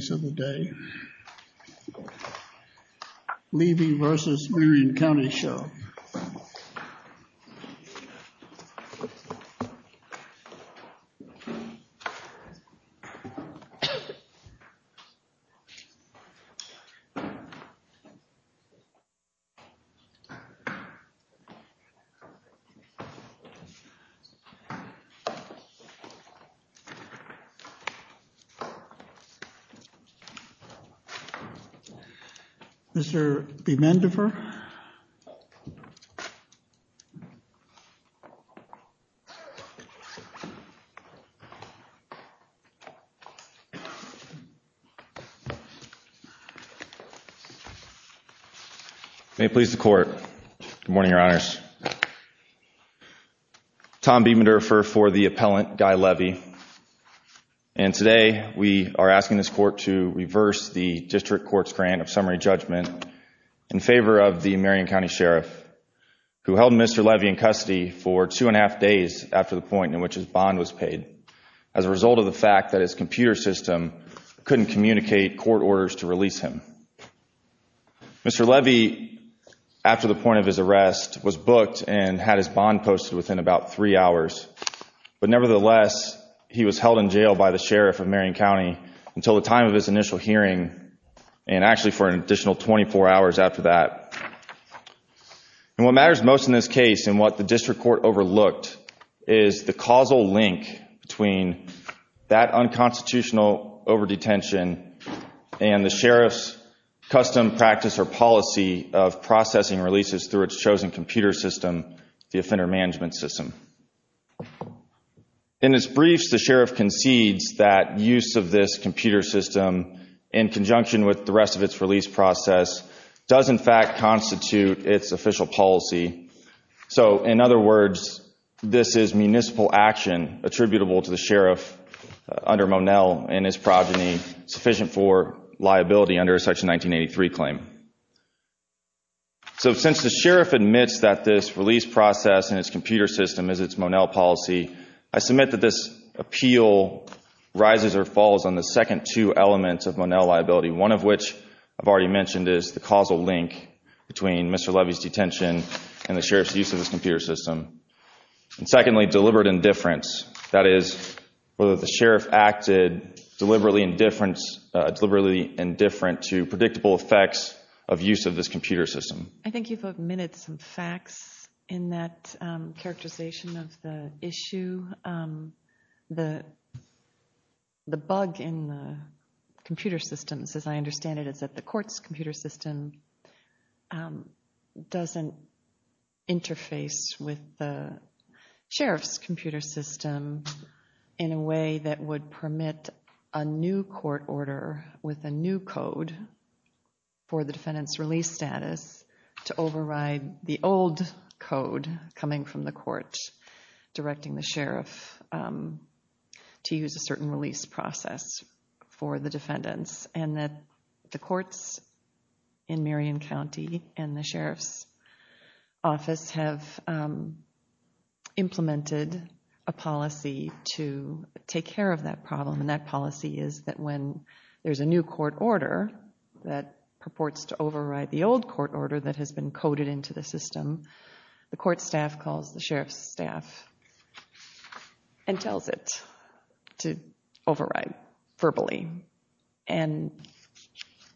Case of the day, Levy v. Marion County Sheriff. Mr. Biedmenderfer. May it please the court. Good morning, Your Honors. Tom Biedmenderfer for the appellant, Gai Levy. And today we are asking this court to reverse the district court's grant of summary judgment in favor of the Marion County Sheriff, who held Mr. Levy in custody for two and a half days after the point in which his bond was paid, as a result of the fact that his computer system couldn't communicate court orders to release him. Mr. Levy, after the point of his arrest, was booked and had his bond posted within about three hours. But nevertheless, he was held in jail by the Sheriff of Marion County until the time of his initial hearing and actually for an additional 24 hours after that. And what matters most in this case and what the district court overlooked is the causal link between that unconstitutional over-detention and the Sheriff's custom practice or policy of processing releases through its chosen computer system, the offender management system. In its briefs, the Sheriff concedes that use of this computer system, in conjunction with the rest of its release process, does in fact constitute its official policy. So, in other words, this is municipal action attributable to the Sheriff under Monell and his progeny, sufficient for liability under a Section 1983 claim. So since the Sheriff admits that this release process and its computer system is its Monell policy, I submit that this appeal rises or falls on the second two elements of Monell liability, one of which I've already mentioned is the causal link between Mr. Levy's detention and the Sheriff's use of this computer system. And secondly, deliberate indifference, that is, whether the Sheriff acted deliberately indifferent to predictable effects of use of this computer system. I think you've omitted some facts in that characterization of the issue. The bug in the computer systems, as I understand it, is that the court's computer system doesn't interface with the Sheriff's computer system in a way that would permit a new court order with a new code for the defendant's release status to override the old code coming from the court directing the Sheriff to use a certain release process for the defendants. And that the courts in Marion County and the Sheriff's office have implemented a policy to take care of that problem, and that policy is that when there's a new court order that purports to override the old court order that has been coded into the system, the court staff calls the Sheriff's staff and tells it to override verbally. And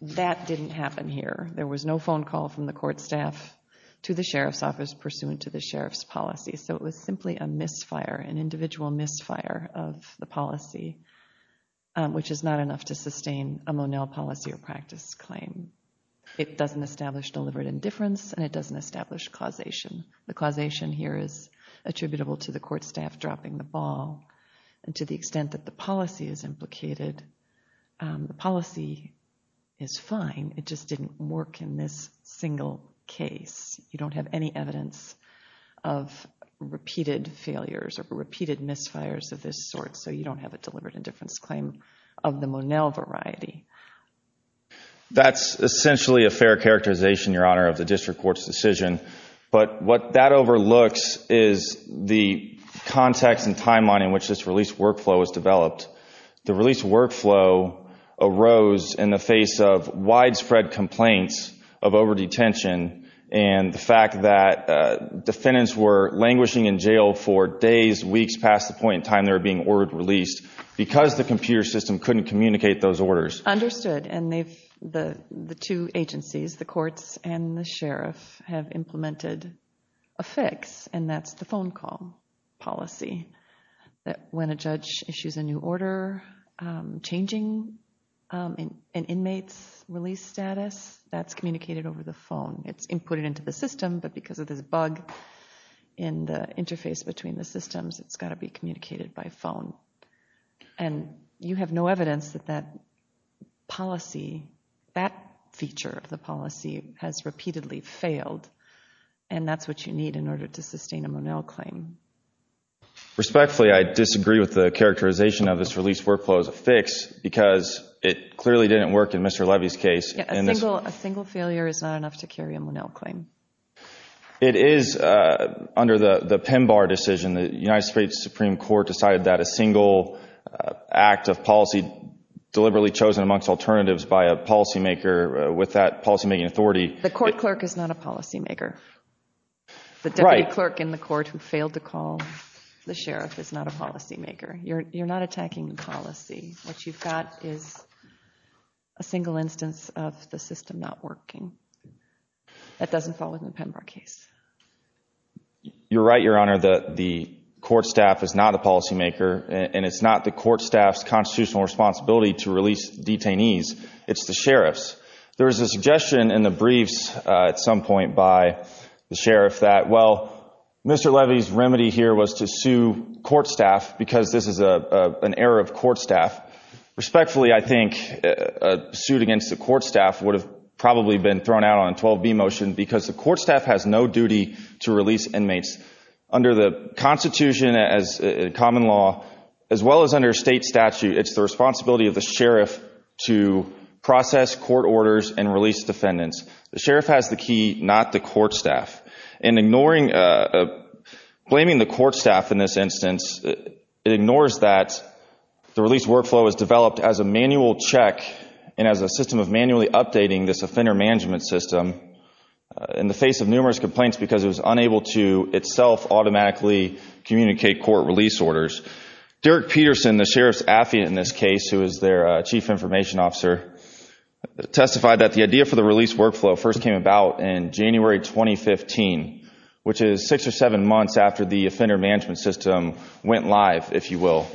that didn't happen here. There was no phone call from the court staff to the Sheriff's office pursuant to the Sheriff's policy. So it was simply a misfire, an individual misfire of the policy, which is not enough to sustain a Monell policy or practice claim. It doesn't establish deliberate indifference, and it doesn't establish causation. The causation here is attributable to the court staff dropping the ball, and to the extent that the policy is implicated, the policy is fine. It just didn't work in this single case. You don't have any evidence of repeated failures or repeated misfires of this sort, so you don't have a deliberate indifference claim of the Monell variety. That's essentially a fair characterization, Your Honor, of the district court's decision. But what that overlooks is the context and timeline in which this release workflow was developed. The release workflow arose in the face of widespread complaints of over-detention, and the fact that defendants were languishing in jail for days, weeks past the point in time they were being ordered released because the computer system couldn't communicate those orders. Understood. And the two agencies, the courts and the Sheriff, have implemented a fix, and that's the phone call policy. When a judge issues a new order, changing an inmate's release status, that's communicated over the phone. It's inputted into the system, but because of this bug in the interface between the systems, it's got to be communicated by phone. And you have no evidence that that policy, that feature of the policy, has repeatedly failed, and that's what you need in order to sustain a Monell claim. Respectfully, I disagree with the characterization of this release workflow as a fix, because it clearly didn't work in Mr. Levy's case. A single failure is not enough to carry a Monell claim. It is, under the PINBAR decision, the United States Supreme Court decided that a single act of policy deliberately chosen amongst alternatives by a policymaker with that policymaking authority. The court clerk is not a policymaker. Right. The deputy clerk in the court who failed to call the Sheriff is not a policymaker. You're not attacking policy. What you've got is a single instance of the system not working. That doesn't fall within the PINBAR case. You're right, Your Honor, that the court staff is not a policymaker, and it's not the court staff's constitutional responsibility to release detainees. It's the Sheriff's. There was a suggestion in the briefs at some point by the Sheriff that, well, Mr. Levy's remedy here was to sue court staff because this is an error of court staff. Respectfully, I think a suit against the court staff would have probably been thrown out on 12b motion because the court staff has no duty to release inmates. Under the Constitution as a common law, as well as under state statute, it's the responsibility of the Sheriff to process court orders and release defendants. The Sheriff has the key, not the court staff. And ignoring—blaming the court staff in this instance, it ignores that the release workflow was developed as a manual check and as a system of manually updating this offender management system in the face of numerous complaints because it was unable to itself automatically communicate court release orders. Derek Peterson, the Sheriff's affidavit in this case, who is their chief information officer, testified that the idea for the release workflow first came about in January 2015, which is six or seven months after the offender management system went live, if you will.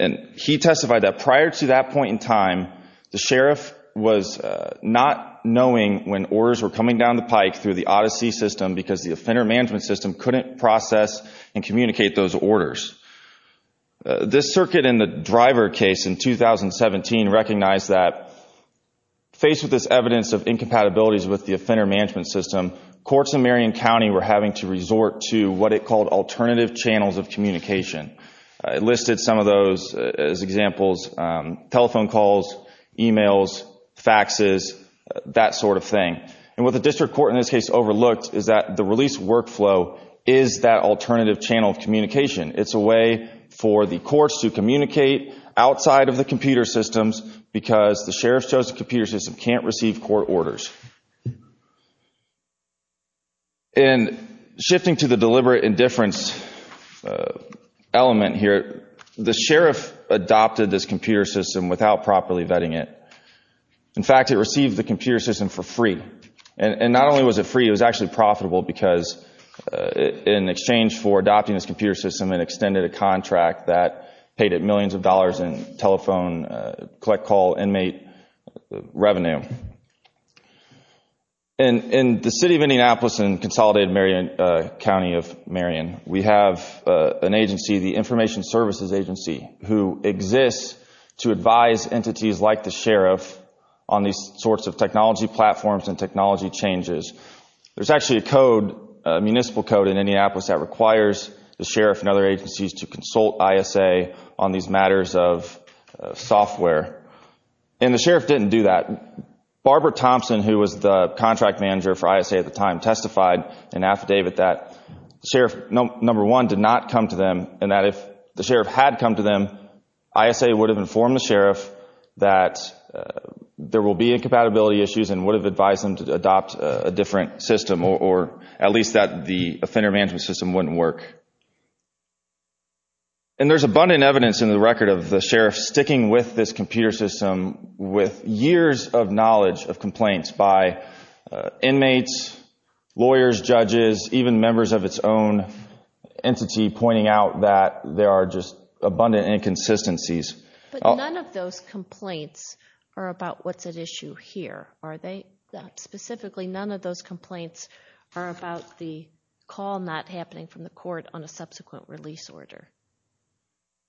And he testified that prior to that point in time, the Sheriff was not knowing when orders were coming down the pike through the Odyssey system because the offender management system couldn't process and communicate those orders. This circuit in the Driver case in 2017 recognized that, faced with this evidence of incompatibilities with the offender management system, courts in Marion County were having to resort to what it called alternative channels of communication. I listed some of those as examples, telephone calls, e-mails, faxes, that sort of thing. And what the district court in this case overlooked is that the release workflow is that alternative channel of communication. It's a way for the courts to communicate outside of the computer systems because the Sheriff's chosen computer system can't receive court orders. And shifting to the deliberate indifference element here, the Sheriff adopted this computer system without properly vetting it. In fact, it received the computer system for free. And not only was it free, it was actually profitable because in exchange for adopting this computer system, it extended a contract that paid it millions of dollars in telephone, collect call, inmate revenue. In the city of Indianapolis and consolidated Marion County of Marion, we have an agency, the Information Services Agency, who exists to advise entities like the Sheriff on these sorts of technology platforms and technology changes. There's actually a code, a municipal code in Indianapolis, that requires the Sheriff and other agencies to consult ISA on these matters of software. And the Sheriff didn't do that. Barbara Thompson, who was the contract manager for ISA at the time, testified in affidavit that the Sheriff, number one, did not come to them and that if the Sheriff had come to them, ISA would have informed the Sheriff that there will be incompatibility issues and would have advised them to adopt a different system, or at least that the offender management system wouldn't work. And there's abundant evidence in the record of the Sheriff sticking with this computer system with years of knowledge of complaints by inmates, lawyers, judges, even members of its own entity, pointing out that there are just abundant inconsistencies. But none of those complaints are about what's at issue here, are they? Specifically, none of those complaints are about the call not happening from the court on a subsequent release order.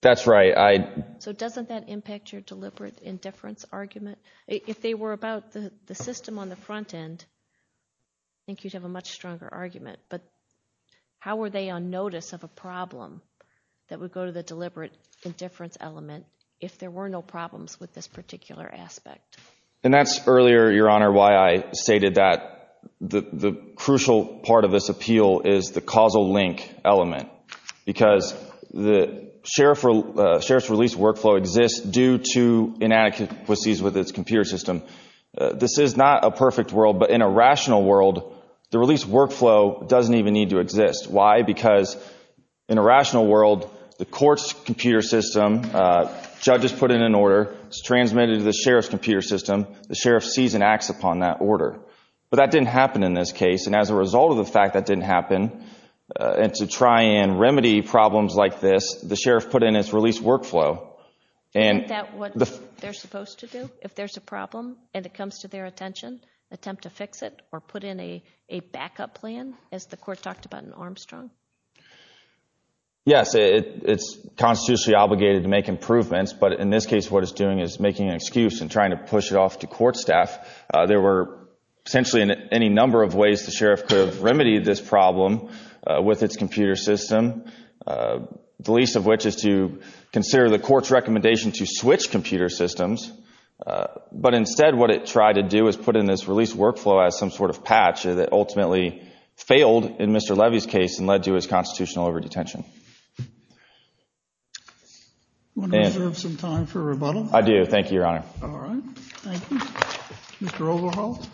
That's right. So doesn't that impact your deliberate indifference argument? If they were about the system on the front end, I think you'd have a much stronger argument. But how were they on notice of a problem that would go to the deliberate indifference element if there were no problems with this particular aspect? And that's earlier, Your Honor, why I stated that the crucial part of this appeal is the causal link element because the Sheriff's release workflow exists due to inadequacies with its computer system. This is not a perfect world, but in a rational world, the release workflow doesn't even need to exist. Why? Because in a rational world, the court's computer system, judges put in an order, it's transmitted to the Sheriff's computer system, the Sheriff sees and acts upon that order. But that didn't happen in this case, and as a result of the fact that didn't happen, and to try and remedy problems like this, the Sheriff put in its release workflow. Isn't that what they're supposed to do if there's a problem and it comes to their attention, attempt to fix it or put in a backup plan, as the court talked about in Armstrong? Yes, it's constitutionally obligated to make improvements, but in this case what it's doing is making an excuse and trying to push it off to court staff. There were essentially any number of ways the Sheriff could have remedied this problem with its computer system, the least of which is to consider the court's recommendation to switch computer systems, but instead what it tried to do is put in this release workflow as some sort of patch that ultimately failed in Mr. Levy's case and led to his constitutional over-detention. Do you want to reserve some time for rebuttal? I do. Thank you, Your Honor. All right. Thank you. Mr. Overholt.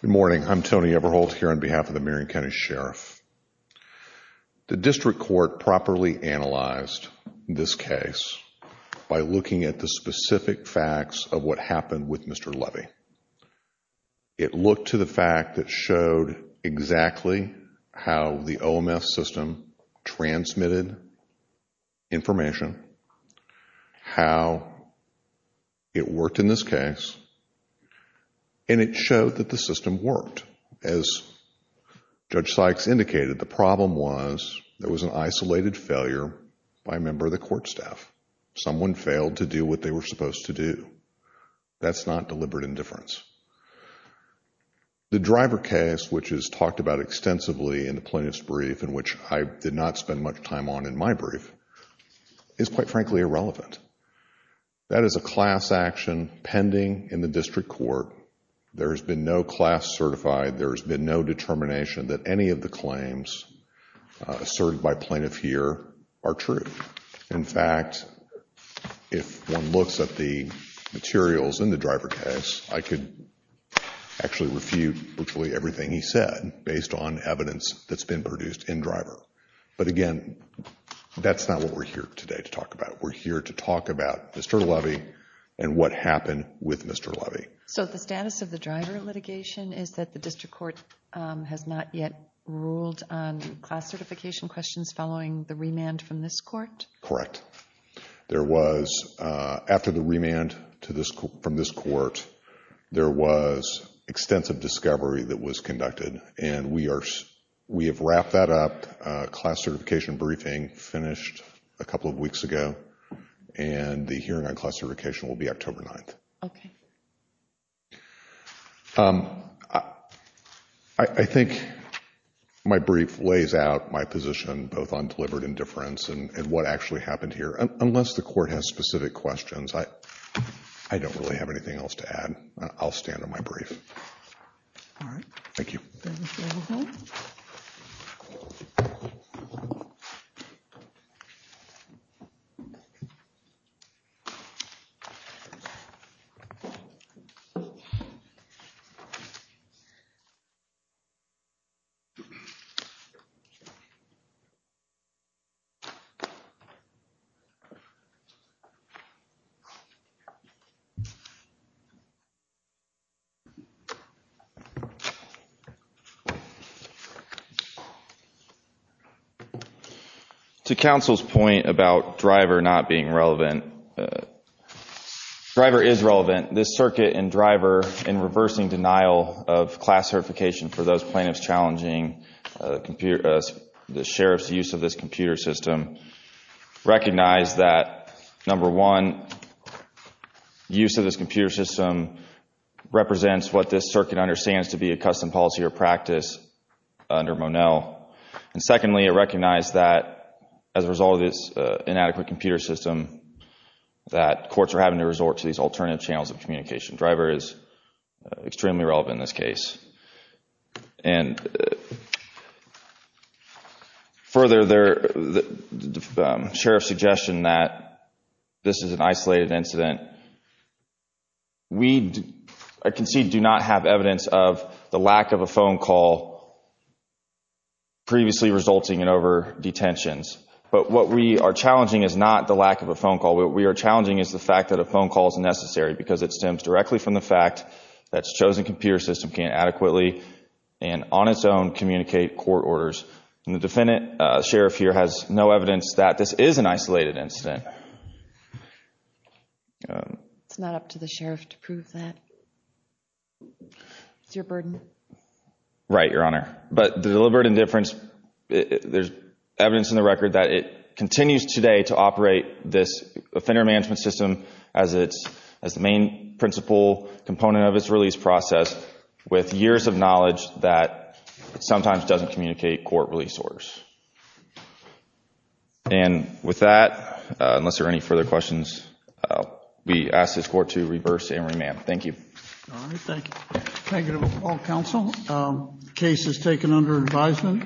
Good morning. I'm Tony Overholt here on behalf of the Marion County Sheriff. The district court properly analyzed this case by looking at the specific facts of what happened with Mr. Levy. It looked to the fact that showed exactly how the OMS system transmitted information, how it worked in this case, and it showed that the system worked. As Judge Sykes indicated, the problem was there was an isolated failure by a member of the court staff. Someone failed to do what they were supposed to do. That's not deliberate indifference. The driver case, which is talked about extensively in the plaintiff's brief and which I did not spend much time on in my brief, is quite frankly irrelevant. That is a class action pending in the district court. There has been no class certified. There has been no determination that any of the claims asserted by plaintiff here are true. In fact, if one looks at the materials in the driver case, I could actually refute virtually everything he said based on evidence that's been produced in driver. But again, that's not what we're here today to talk about. We're here to talk about Mr. Levy and what happened with Mr. Levy. So the status of the driver litigation is that the district court has not yet ruled on class certification questions following the remand from this court? Correct. After the remand from this court, there was extensive discovery that was conducted, and we have wrapped that up. A class certification briefing finished a couple of weeks ago, and the hearing on class certification will be October 9th. Okay. I think my brief lays out my position both on deliberate indifference and what actually happened here. Unless the court has specific questions, I don't really have anything else to add. I'll stand on my brief. All right. Thank you. Thank you. Thank you. Thank you. Thank you. This circuit and driver in reversing denial of class certification for those plaintiffs challenging the sheriff's use of this computer system recognize that, number one, use of this computer system represents what this circuit understands to be a custom policy or practice under Monell. And secondly, it recognized that as a result of this inadequate computer system, that courts are having to resort to these alternative channels of communication. Driver is extremely relevant in this case. And further, the sheriff's suggestion that this is an isolated incident. We, I concede, do not have evidence of the lack of a phone call previously resulting in over-detentions. But what we are challenging is not the lack of a phone call. What we are challenging is the fact that a phone call is necessary because it stems directly from the fact that a chosen computer system can't adequately and on its own communicate court orders. And the defendant, sheriff here, has no evidence that this is an isolated incident. It's not up to the sheriff to prove that. It's your burden. Right, Your Honor. But the deliberate indifference, there's evidence in the record that it continues today to operate this offender management system as the main principal component of its release process with years of knowledge that sometimes doesn't communicate court release orders. And with that, unless there are any further questions, we ask this Court to reverse and remand. Thank you. All right, thank you. Thank you to all counsel. Case is taken under advisement.